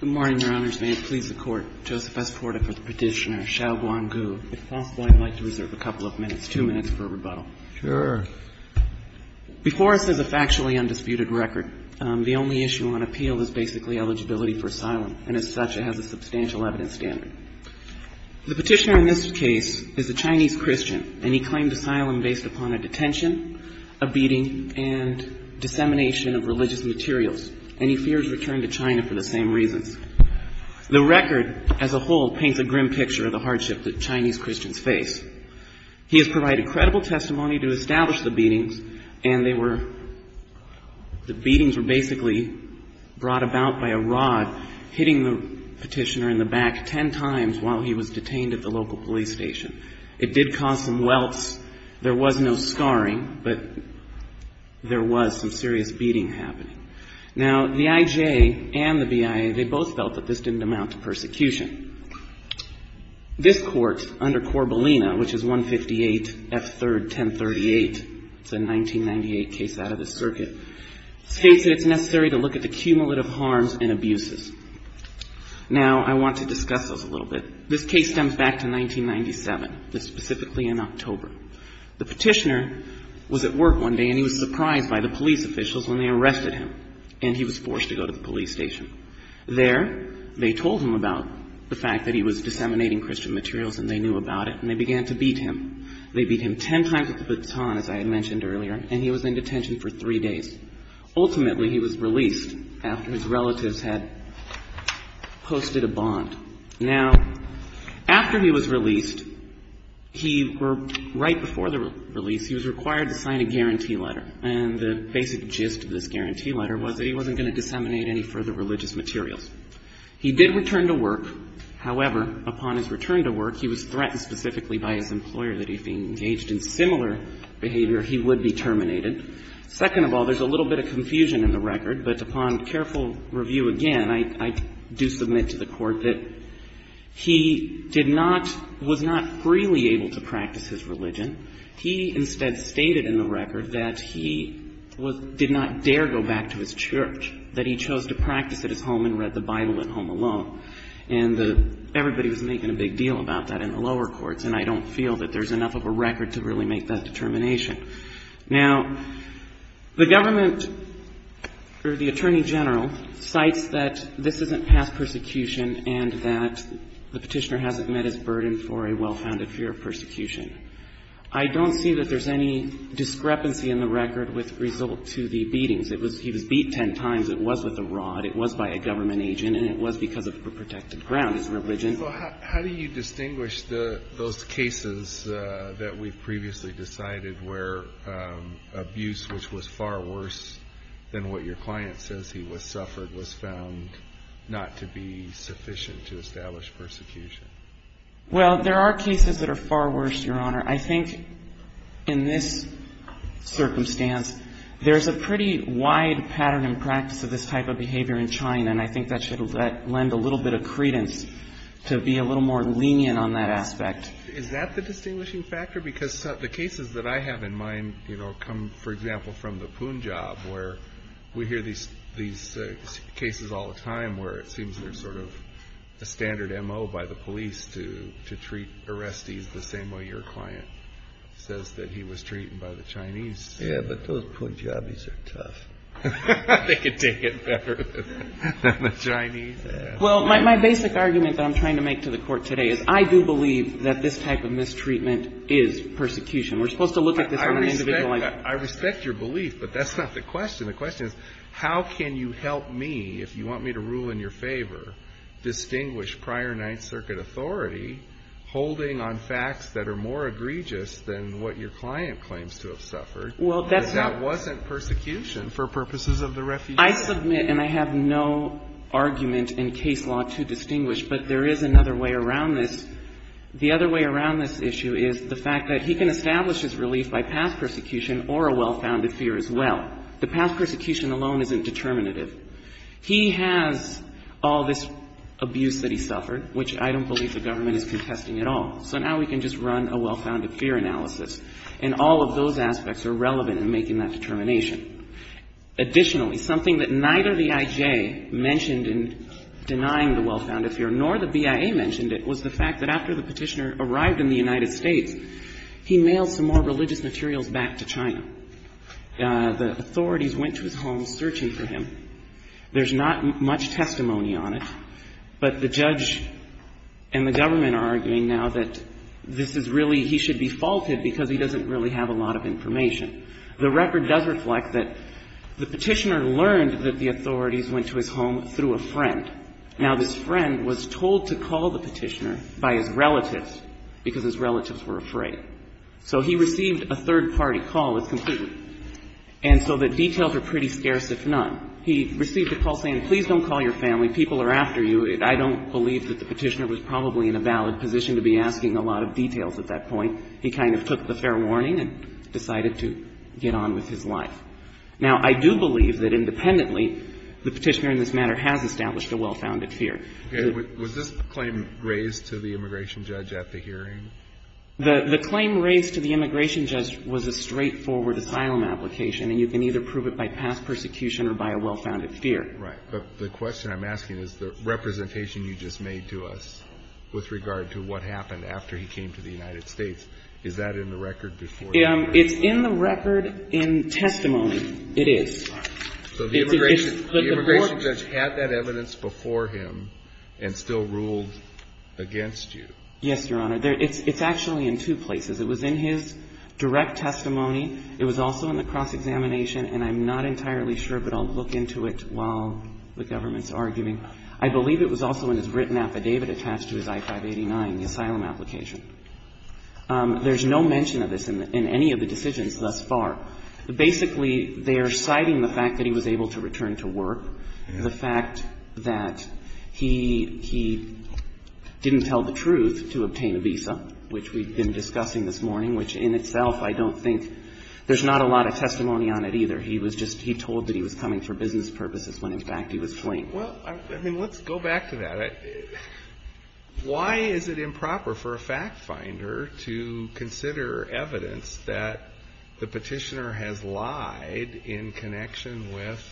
Good morning, Your Honors. May it please the Court, Joseph S. Porta for the Petitioner, Xiao Guanggu. If possible, I'd like to reserve a couple of minutes, two minutes for rebuttal. Sure. Before us is a factually undisputed record. The only issue on appeal is basically eligibility for asylum, and as such, it has a substantial evidence standard. The Petitioner in this case is a Chinese Christian, and he claimed asylum based upon a detention, a beating, and dissemination of religious materials, and he fears return to China for the same reasons. The record as a whole paints a grim picture of the hardship that Chinese Christians face. He has provided credible testimony to establish the beatings, and they were, the beatings were basically brought about by a rod hitting the Petitioner in the back ten times while he was detained at the local police station. It did cause some welts. There was no scarring, but there was some serious beating happening. Now, the IJ and the BIA, they both felt that this didn't amount to persecution. This Court, under Corbellina, which is 158 F. 3rd. 1038, it's a 1998 case out of the circuit, states that it's necessary to look at the cumulative harms and abuses. Now, I want to discuss those a little bit. This case stems back to 1997, this is specifically in October. The Petitioner was at work one day, and he was surprised by the police officials when they arrested him, and he was forced to go to the police station. There, they told him about the fact that he was disseminating Christian materials, and they knew about it, and they began to beat him. They beat him ten times with a baton, as I had mentioned earlier, and he was in detention for three days. Ultimately, he was released after his relatives had posted a bond. Now, after he was released, he, right before the release, he was required to sign a guarantee letter, and the basic gist of this guarantee letter was that he wasn't going to disseminate any further religious materials. He did return to work. However, upon his return to work, he was threatened specifically by his employer that if he engaged in similar behavior, he would be terminated. Second of all, there's a little bit of confusion in the record, but upon careful review again, I do submit to the Court that he did not, was not freely able to practice his religion. He instead stated in the record that he was, did not dare go back to his church, that he chose to practice at his home and read the Bible at home alone. And everybody was making a big deal about that in the lower courts, and I don't feel that there's enough of a record to really make that determination. Now, the government or the attorney general cites that this isn't past persecution and that the Petitioner hasn't met his burden for a well-founded fear of persecution. I don't see that there's any discrepancy in the record with result to the beatings. It was, he was beat ten times. It was with a rod. It was by a government agent, and it was because of a protected ground, his religion. Well, how do you distinguish those cases that we've previously decided where abuse, which was far worse than what your client says he suffered, was found not to be sufficient to establish persecution? Well, there are cases that are far worse, Your Honor. I think in this circumstance, there's a pretty wide pattern and practice of this type of behavior in China, and I think that should lend a little bit of credence to be a little more lenient on that aspect. Is that the distinguishing factor? Because the cases that I have in mind, you know, come, for example, from the Punjab, where we hear these cases all the time where it seems they're sort of a standard MO by the police to treat arrestees the same way your client says that he was treated by the Chinese. Yeah, but those Punjabis are tough. They can take it better than the Chinese. Well, my basic argument that I'm trying to make to the Court today is I do believe that this type of mistreatment is persecution. We're supposed to look at this on an individual level. I respect your belief, but that's not the question. The question is, how can you help me, if you want me to rule in your favor, distinguish prior Ninth Circuit authority holding on facts that are more egregious than what your client claims to have suffered, that that wasn't persecution for purposes of the refugee? I submit, and I have no argument in case law to distinguish, but there is another way around this. The other way around this issue is the fact that he can establish his relief by past persecution or a well-founded fear as well. The past persecution alone isn't determinative. He has all this abuse that he suffered, which I don't believe the government is contesting at all. So now we can just run a well-founded fear analysis. And all of those aspects are relevant in making that determination. Additionally, something that neither the I.J. mentioned in denying the well-founded fear, nor the BIA mentioned it, was the fact that after the petitioner arrived in the United States, he mailed some more religious materials back to China. The authorities went to his home searching for him. There's not much testimony on it, but the judge and the government are arguing now that this is really he should be faulted because he doesn't really have a lot of information. The record does reflect that the petitioner learned that the authorities went to his home through a friend. Now, this friend was told to call the petitioner by his relatives because his relatives were afraid. So he received a third-party call that's completely new. And so the details are pretty scarce, if none. He received a call saying, please don't call your family. People are after you. I don't believe that the petitioner was probably in a valid position to be asking a lot of details at that point. He kind of took the fair warning and decided to get on with his life. Now, I do believe that independently, the petitioner in this matter has established a well-founded fear. Alito, was this claim raised to the immigration judge at the hearing? The claim raised to the immigration judge was a straightforward asylum application, and you can either prove it by past persecution or by a well-founded fear. Right. But the question I'm asking is the representation you just made to us with regard to what happened after he came to the United States, is that in the record before you? It's in the record in testimony. It is. So the immigration judge had that evidence before him and still ruled against you? Yes, Your Honor. It's actually in two places. It was in his direct testimony. It was also in the cross-examination. And I'm not entirely sure, but I'll look into it while the government's arguing. I believe it was also in his written affidavit attached to his I-589, the asylum application. There's no mention of this in any of the decisions thus far. Basically, they are citing the fact that he was able to return to work, the fact that he didn't tell the truth to obtain a visa, which we've been discussing this morning, which in itself I don't think — there's not a lot of testimony on it either. He was just — he told that he was coming for business purposes when, in fact, he was fleeing. Well, I mean, let's go back to that. Why is it improper for a fact-finder to consider evidence that the Petitioner has lied in connection with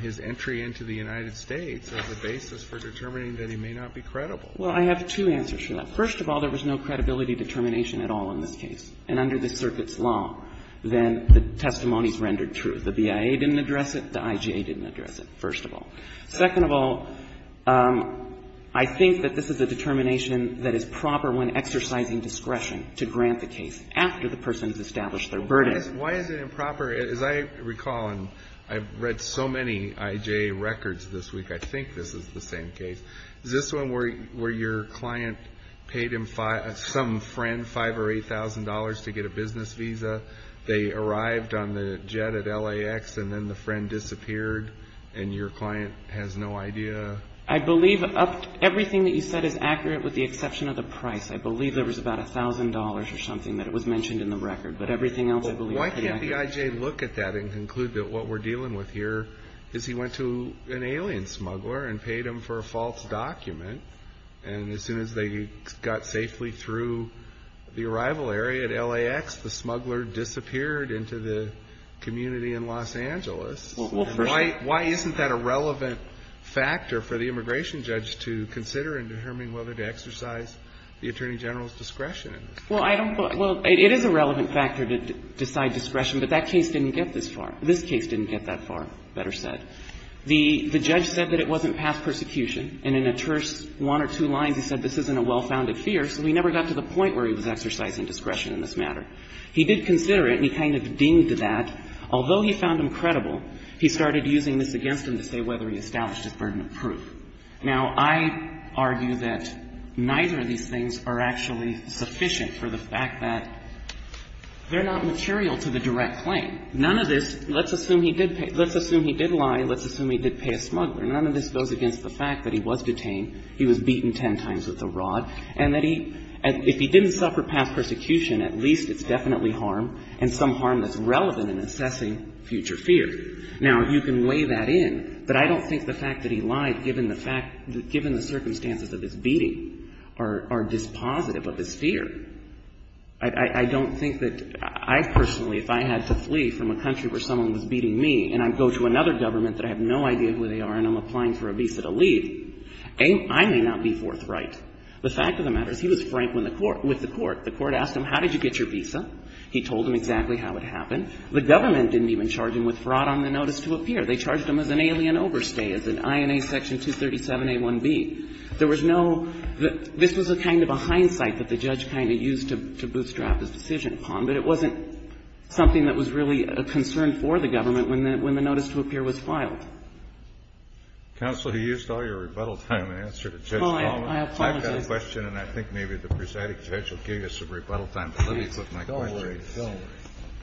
his entry into the United States as a basis for determining that he may not be credible? Well, I have two answers for that. First of all, there was no credibility determination at all in this case. And under the circuit's law, then the testimonies rendered true. The BIA didn't address it. The IJA didn't address it, first of all. Second of all, I think that this is a determination that is proper when exercising discretion to grant the case after the person's established their verdict. Why is it improper? As I recall, and I've read so many IJA records this week, I think this is the same case. Is this one where your client paid some friend $5,000 or $8,000 to get a business visa? They arrived on the jet at LAX, and then the friend disappeared, and your client has no idea? I believe everything that you said is accurate with the exception of the price. I believe there was about $1,000 or something that was mentioned in the record. But everything else I believe is pretty accurate. Why can't the IJA look at that and conclude that what we're dealing with here is he went to an alien smuggler and paid him for a false document, and as soon as they got safely through the arrival area at LAX, the smuggler disappeared into the community in Los Angeles? Well, for sure. Why isn't that a relevant factor for the immigration judge to consider in determining whether to exercise the Attorney General's discretion in this case? Well, it is a relevant factor to decide discretion, but that case didn't get this far, better said. The judge said that it wasn't past persecution, and in a terse one or two lines, he said this isn't a well-founded fear, so he never got to the point where he was exercising discretion in this matter. He did consider it, and he kind of deemed that, although he found him credible, he started using this against him to say whether he established his burden of proof. Now, I argue that neither of these things are actually sufficient for the fact that they're not material to the direct claim. None of this, let's assume he did pay – let's assume he did lie, and let's assume he did pay a smuggler. None of this goes against the fact that he was detained, he was beaten ten times with a rod, and that he – if he didn't suffer past persecution, at least it's definitely harm, and some harm that's relevant in assessing future fear. Now, you can weigh that in, but I don't think the fact that he lied, given the fact – given the circumstances of his beating, are dispositive of his fear. I don't think that I personally, if I had to flee from a country where someone was beating me, and I go to another government that I have no idea who they are and I'm applying for a visa to leave, I may not be forthright. The fact of the matter is he was frank with the court. The court asked him, how did you get your visa? He told him exactly how it happened. The government didn't even charge him with fraud on the notice to appear. They charged him as an alien overstay, as in INA Section 237a1b. There was no – this was a kind of a hindsight that the judge kind of used to bootstrap his decision upon, but it wasn't something that was really a concern for the government when the notice to appear was filed. Kennedy. Counsel, you used all your rebuttal time in answer to Judge Palmer. I apologize. I've got a question, and I think maybe the presiding judge will give you some rebuttal time, but let me put my question. Go away. Go away.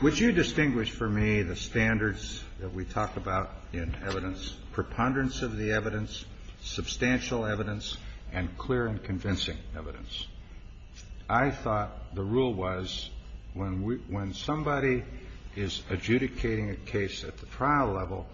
Would you distinguish for me the standards that we talked about in evidence, preponderance of the evidence, substantial evidence, and clear and convincing evidence? I thought the rule was when we – when somebody is adjudicating a case at the trial level,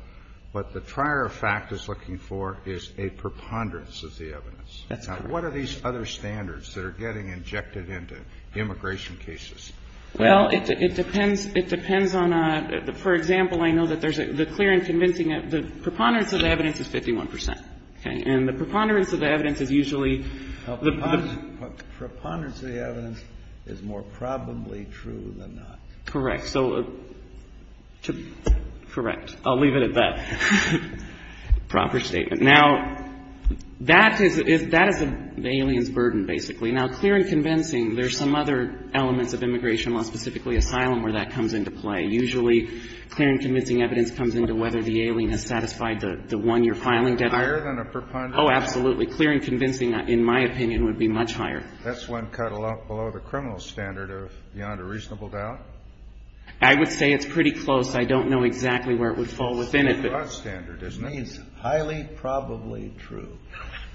what the trier of fact is looking for is a preponderance of the evidence. That's correct. Now, what are these other standards that are getting injected into immigration cases? Well, it depends. It depends on a – for example, I know that there's a clear and convincing – the preponderance of the evidence is 51 percent, okay? And the preponderance of the evidence is usually the – The preponderance of the evidence is more probably true than not. Correct. So – correct. I'll leave it at that. Proper statement. Now, that is – that is the alien's burden, basically. Now, clear and convincing, there's some other elements of immigration law, specifically asylum, where that comes into play. Usually, clear and convincing evidence comes into whether the alien has satisfied the one you're filing. Higher than a preponderance? Oh, absolutely. Clear and convincing, in my opinion, would be much higher. That's when cut below the criminal standard of beyond a reasonable doubt? I would say it's pretty close. I don't know exactly where it would fall within it, but – It's a broad standard, isn't it? It means highly probably true.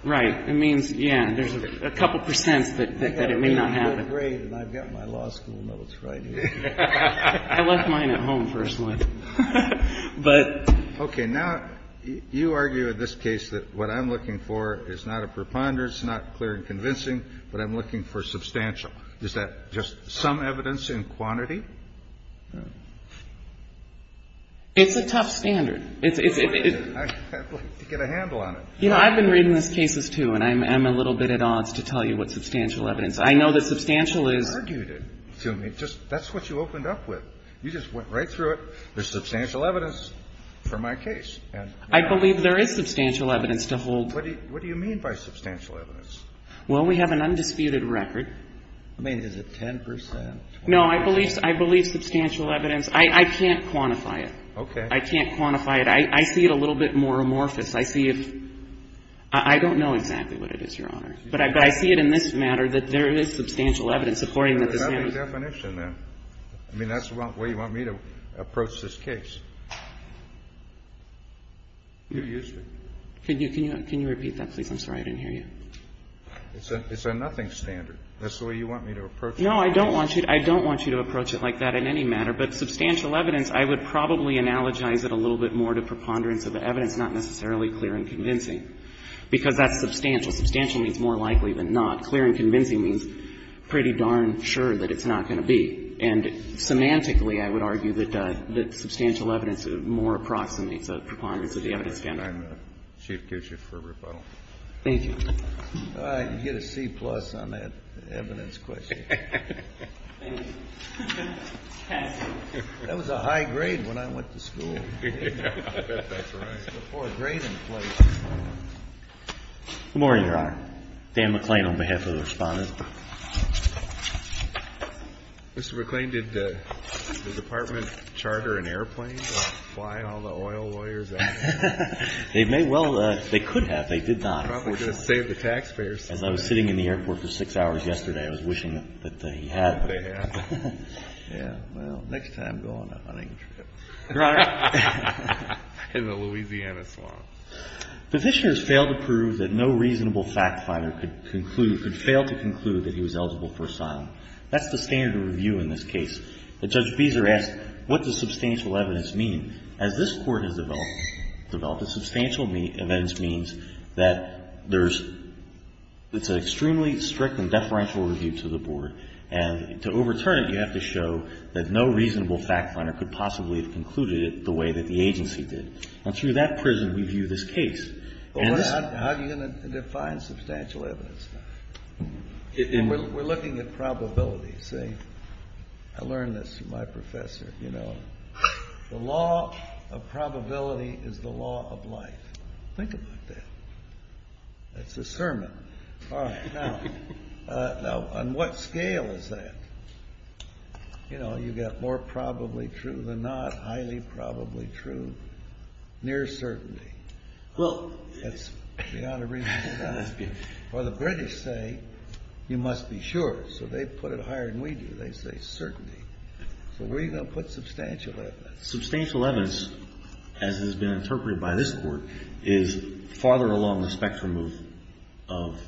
Right. It means, yeah, there's a couple of percents that it may not happen. I've got my grade and I've got my law school notes right here. I left mine at home, personally. But – Okay. Now, you argue in this case that what I'm looking for is not a preponderance, not clear and convincing, but I'm looking for substantial. Is that just some evidence in quantity? It's a tough standard. It's – I'd like to get a handle on it. You know, I've been reading these cases, too, and I'm a little bit at odds to tell you what substantial evidence. I know that substantial is – You argued it to me. That's what you opened up with. You just went right through it. There's substantial evidence for my case. I believe there is substantial evidence to hold. What do you mean by substantial evidence? Well, we have an undisputed record. I mean, is it 10 percent? No, I believe substantial evidence. I can't quantify it. Okay. I can't quantify it. I see it a little bit more amorphous. I see it – I don't know exactly what it is, Your Honor. But I see it in this matter that there is substantial evidence supporting that this man was – There's another definition, then. I mean, that's the way you want me to approach this case. You used it. Can you repeat that, please? I'm sorry. I didn't hear you. It's a nothing standard. That's the way you want me to approach it. No, I don't want you to – I don't want you to approach it like that in any matter. But substantial evidence, I would probably analogize it a little bit more to preponderance of the evidence, not necessarily clear and convincing, because that's substantial. Substantial means more likely than not. Clear and convincing means pretty darn sure that it's not going to be. And semantically, I would argue that substantial evidence more approximates a preponderance of the evidence standard. I'm a chief judge for rebuttal. Thank you. You get a C-plus on that evidence question. Thank you. That was a high grade when I went to school. I bet that's right. Before a grade in place. Good morning, Your Honor. Dan McClain on behalf of the respondents. Mr. McClain, did the department charter an airplane to fly all the oil lawyers out here? They may well have. They could have. They did not. We're going to save the taxpayers. As I was sitting in the airport for six hours yesterday, I was wishing that they had. They have. Yeah, well, next time go on a hunting trip. Your Honor. In the Louisiana swamp. The petitioner has failed to prove that no reasonable fact finder could conclude, could fail to conclude that he was eligible for asylum. That's the standard of review in this case. Judge Beeser asked, what does substantial evidence mean? As this Court has developed, substantial evidence means that there's, it's an extremely strict and deferential review to the board. And to overturn it, you have to show that no reasonable fact finder could possibly have concluded it the way that the agency did. And through that prison, we view this case. How are you going to define substantial evidence? We're looking at probability, see? I learned this from my professor, you know. The law of probability is the law of life. Think about that. That's a sermon. Now, on what scale is that? You know, you've got more probably true than not, highly probably true. Near certainty. That's beyond a reasonable doubt. Well, the British say you must be sure, so they put it higher than we do. They say certainty. So where are you going to put substantial evidence? Substantial evidence, as has been interpreted by this Court, is farther along the spectrum of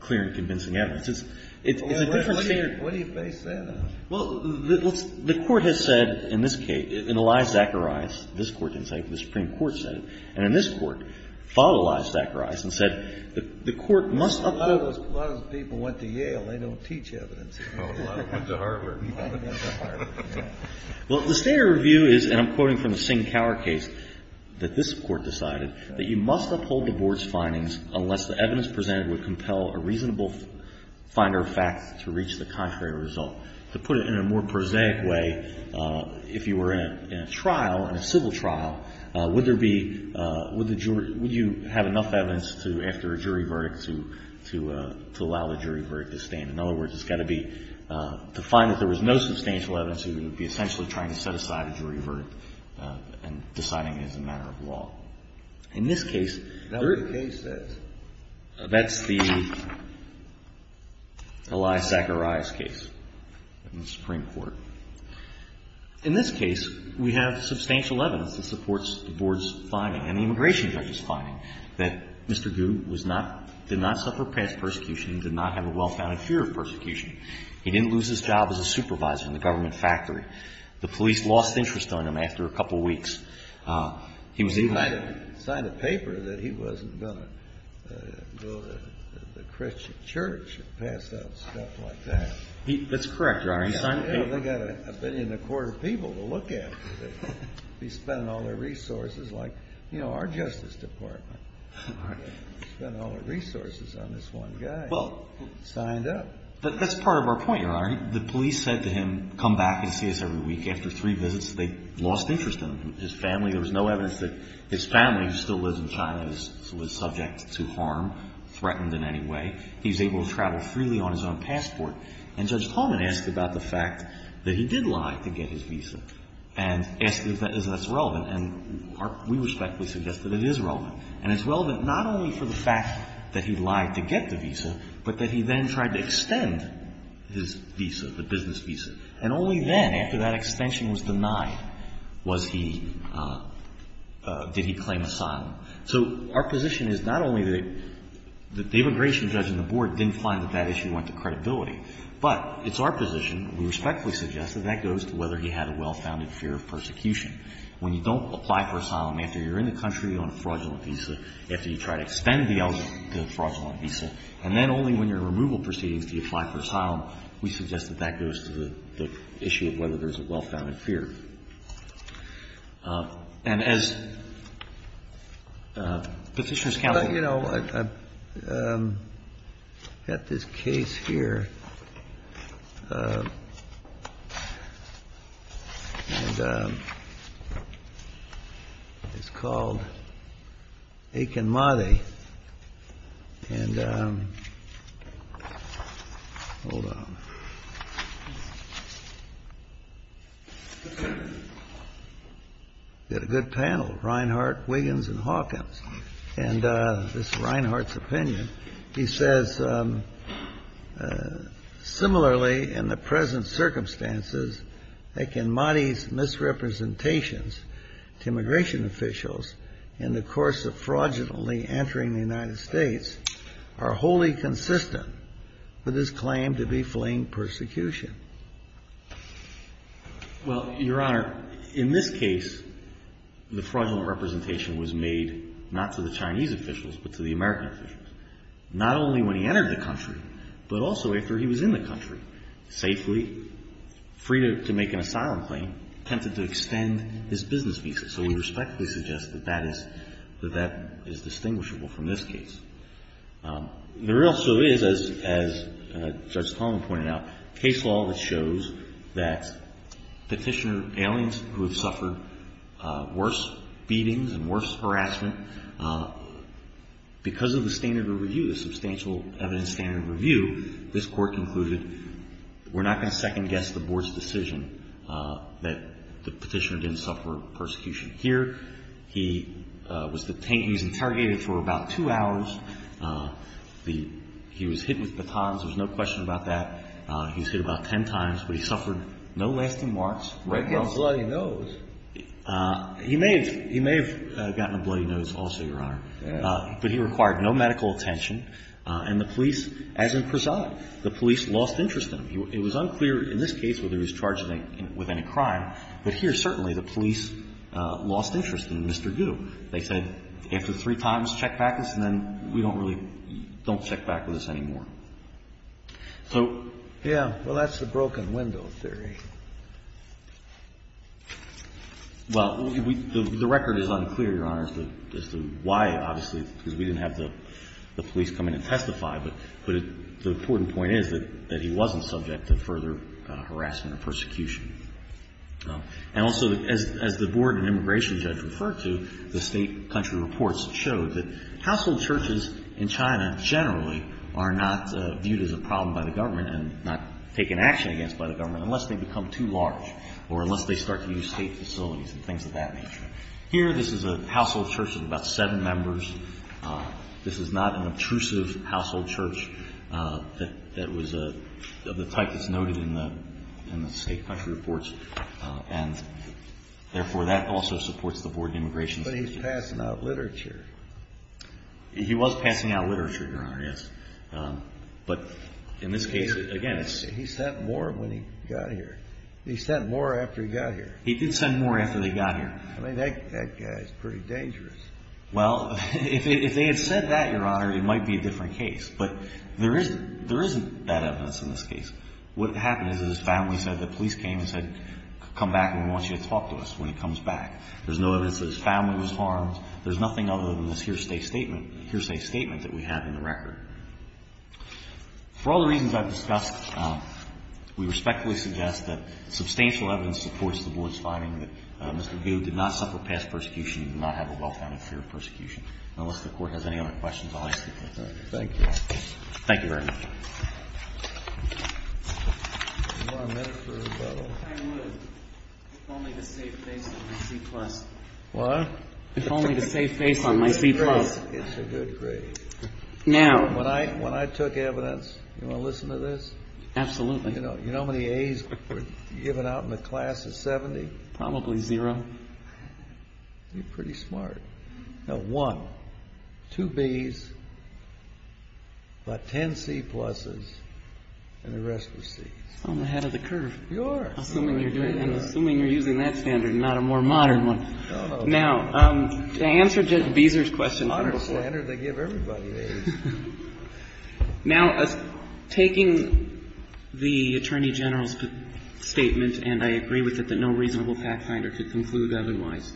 clear and convincing evidence. It's a different standard. What do you base that on? Well, the Court has said in this case, in the lies Zacharias, this Court didn't say it, but the Supreme Court said it. And in this Court, followed the lies Zacharias and said the Court must uphold A lot of those people went to Yale. They don't teach evidence. Went to Harvard. Went to Harvard. Well, the standard view is, and I'm quoting from the Singh-Cower case, that this Court decided that you must uphold the Board's findings unless the evidence presented would compel a reasonable finder of fact to reach the contrary result. To put it in a more prosaic way, if you were in a trial, in a civil trial, would there be, would you have enough evidence after a jury verdict to allow the jury verdict to stand? In other words, it's got to be, to find that there was no substantial evidence you would be essentially trying to set aside a jury verdict and deciding it as a matter of law. In this case, that's the lies Zacharias case. In the Supreme Court. In this case, we have substantial evidence that supports the Board's finding and the immigration judge's finding that Mr. Gu did not suffer past persecution and did not have a well-founded fear of persecution. He didn't lose his job as a supervisor in the government factory. The police lost interest on him after a couple weeks. He was even He might have signed a paper that he wasn't going to go to the Christian church and pass out stuff like that. That's correct, Your Honor. He signed a paper. They got a billion and a quarter people to look at. He spent all their resources like, you know, our Justice Department. He spent all the resources on this one guy. Well. He signed up. But that's part of our point, Your Honor. The police said to him, come back and see us every week. After three visits, they lost interest in him. His family, there was no evidence that his family, who still lives in China, is subject to harm, threatened in any way. He was able to travel freely on his own passport. And Judge Tallman asked about the fact that he did lie to get his visa and asked if that's relevant. And we respectfully suggest that it is relevant. And it's relevant not only for the fact that he lied to get the visa, but that he then tried to extend his visa, the business visa. And only then, after that extension was denied, did he claim asylum. So our position is not only that the immigration judge and the board didn't find that that issue went to credibility, but it's our position, we respectfully suggest, that that goes to whether he had a well-founded fear of persecution. When you don't apply for asylum after you're in the country on a fraudulent visa, after you try to extend the fraudulent visa, and then only when you're in removal proceedings do you apply for asylum, we suggest that that goes to the issue of whether there's a well-founded fear. And as Petitioner's counsel. Well, you know, I've got this case here, and it's called Akinmati. And hold on. We've got a good panel. Reinhart, Wiggins, and Hawkins. And this is Reinhart's opinion. He says, similarly, in the present circumstances, Akinmati's misrepresentations to immigration officials in the course of fraudulently entering the United States are wholly consistent with his claim to be fleeing persecution. Well, Your Honor, in this case, the fraudulent representation was made not to the Chinese officials, but to the American officials. Not only when he entered the country, but also after he was in the country safely, free to make an asylum claim, attempted to extend his business visa. So we respectfully suggest that that is distinguishable from this case. There also is, as Judge Coleman pointed out, case law that shows that Petitioner, aliens who have suffered worse beatings and worse harassment, because of the standard of review, the substantial evidence standard of review, this Court concluded, we're not going to second-guess the Board's decision that the Petitioner didn't suffer persecution. Here, he was detained, he was interrogated for about two hours. He was hit with batons. There's no question about that. He was hit about ten times. But he suffered no lasting marks. He may have gotten a bloody nose also, Your Honor. But he required no medical attention. And the police, as in Prasad, the police lost interest in him. It was unclear in this case whether he was charged with any crime. But here, certainly, the police lost interest in Mr. Gu. They said, after three times, check back with us, and then we don't really check back with us anymore. So. Yeah. Well, that's the broken window theory. Well, the record is unclear, Your Honor, as to why, obviously, because we didn't have the police come in and testify. But the important point is that he wasn't subject to further harassment or persecution. And also, as the board and immigration judge referred to, the state and country reports showed that household churches in China generally are not viewed as a problem by the government and not taken action against by the government unless they become too large or unless they start to use state facilities and things of that nature. Here, this is a household church of about seven members. This is not an obtrusive household church that was of the type that's noted in the state and country reports, and therefore, that also supports the board and immigration judge. But he's passing out literature. He was passing out literature, Your Honor, yes. But in this case, again, it's. He sent more when he got here. He sent more after he got here. He did send more after they got here. I mean, that guy's pretty dangerous. Well, if they had said that, Your Honor, it might be a different case. But there isn't that evidence in this case. What happened is that his family said that police came and said, come back and we want you to talk to us when he comes back. There's no evidence that his family was harmed. There's nothing other than this hearsay statement that we have in the record. For all the reasons I've discussed, we respectfully suggest that substantial evidence supports the board's finding that Mr. Gu did not suffer past persecution and did not have a well-founded fear of persecution. And unless the Court has any other questions, I'll let you take them. Thank you. Thank you very much. If I would, if only to save face on my C-plus. What? If only to save face on my C-plus. It's a good grade. Now. When I took evidence, you want to listen to this? Absolutely. You know how many A's were given out in the class of 70? Probably zero. You're pretty smart. Now, one, two B's, about 10 C-pluses, and the rest were C's. I'm ahead of the curve. You are. Assuming you're using that standard and not a more modern one. No, no. Now, to answer Judge Beezer's question. It's a modern standard. They give everybody A's. Now, taking the Attorney General's statement, and I agree with it that no reasonable fact finder could conclude otherwise.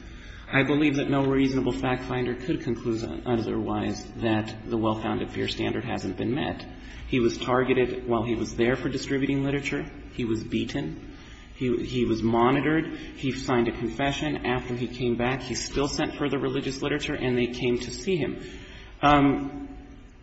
I believe that no reasonable fact finder could conclude otherwise that the well-founded fear standard hasn't been met. He was targeted while he was there for distributing literature. He was beaten. He was monitored. He signed a confession. After he came back, he still sent further religious literature, and they came to see him.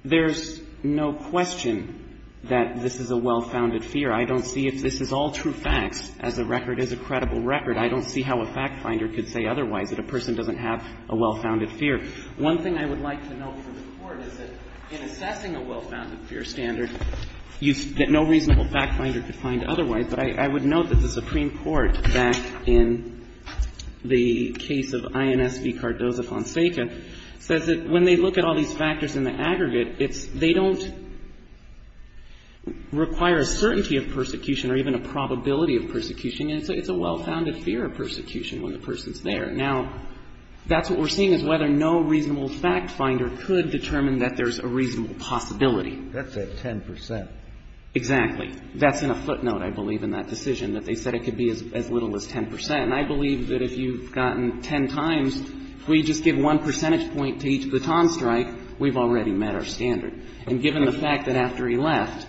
There's no question that this is a well-founded fear. I don't see if this is all true facts, as a record is a credible record. I don't see how a fact finder could say otherwise, that a person doesn't have a well-founded fear. One thing I would like to note from the Court is that in assessing a well-founded fear standard, that no reasonable fact finder could find otherwise. But I would note that the Supreme Court, back in the case of INS v. Cardoza-Fonseca, says that when they look at all these factors in the aggregate, it's they don't require a certainty of persecution or even a probability of persecution. And it's a well-founded fear of persecution when the person's there. Now, that's what we're seeing is whether no reasonable fact finder could determine that there's a reasonable possibility. That's at 10 percent. Exactly. That's in a footnote, I believe, in that decision, that they said it could be as little as 10 percent. And I believe that if you've gotten 10 times, if we just give one percentage point to each baton strike, we've already met our standard. And given the fact that after he left,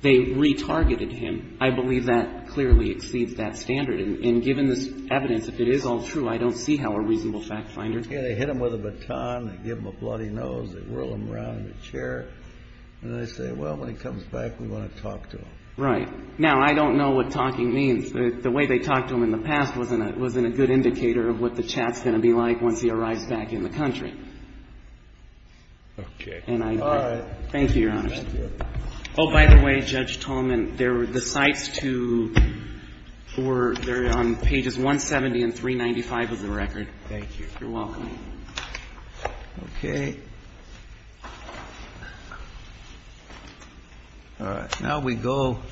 they retargeted him, I believe that clearly exceeds that standard. And given this evidence, if it is all true, I don't see how a reasonable fact finder can't do that. They hit him with a baton, they give him a bloody nose, they whirl him around in a chair, and they say, well, when he comes back, we want to talk to him. Right. Now, I don't know what talking means. The way they talked to him in the past wasn't a good indicator of what the chat's going to be like once he arrives back in the country. Okay. All right. Thank you, Your Honor. Thank you. Oh, by the way, Judge Tolman, the sites to or they're on pages 170 and 395 of the record. Thank you. You're welcome. Okay. All right. Now we go.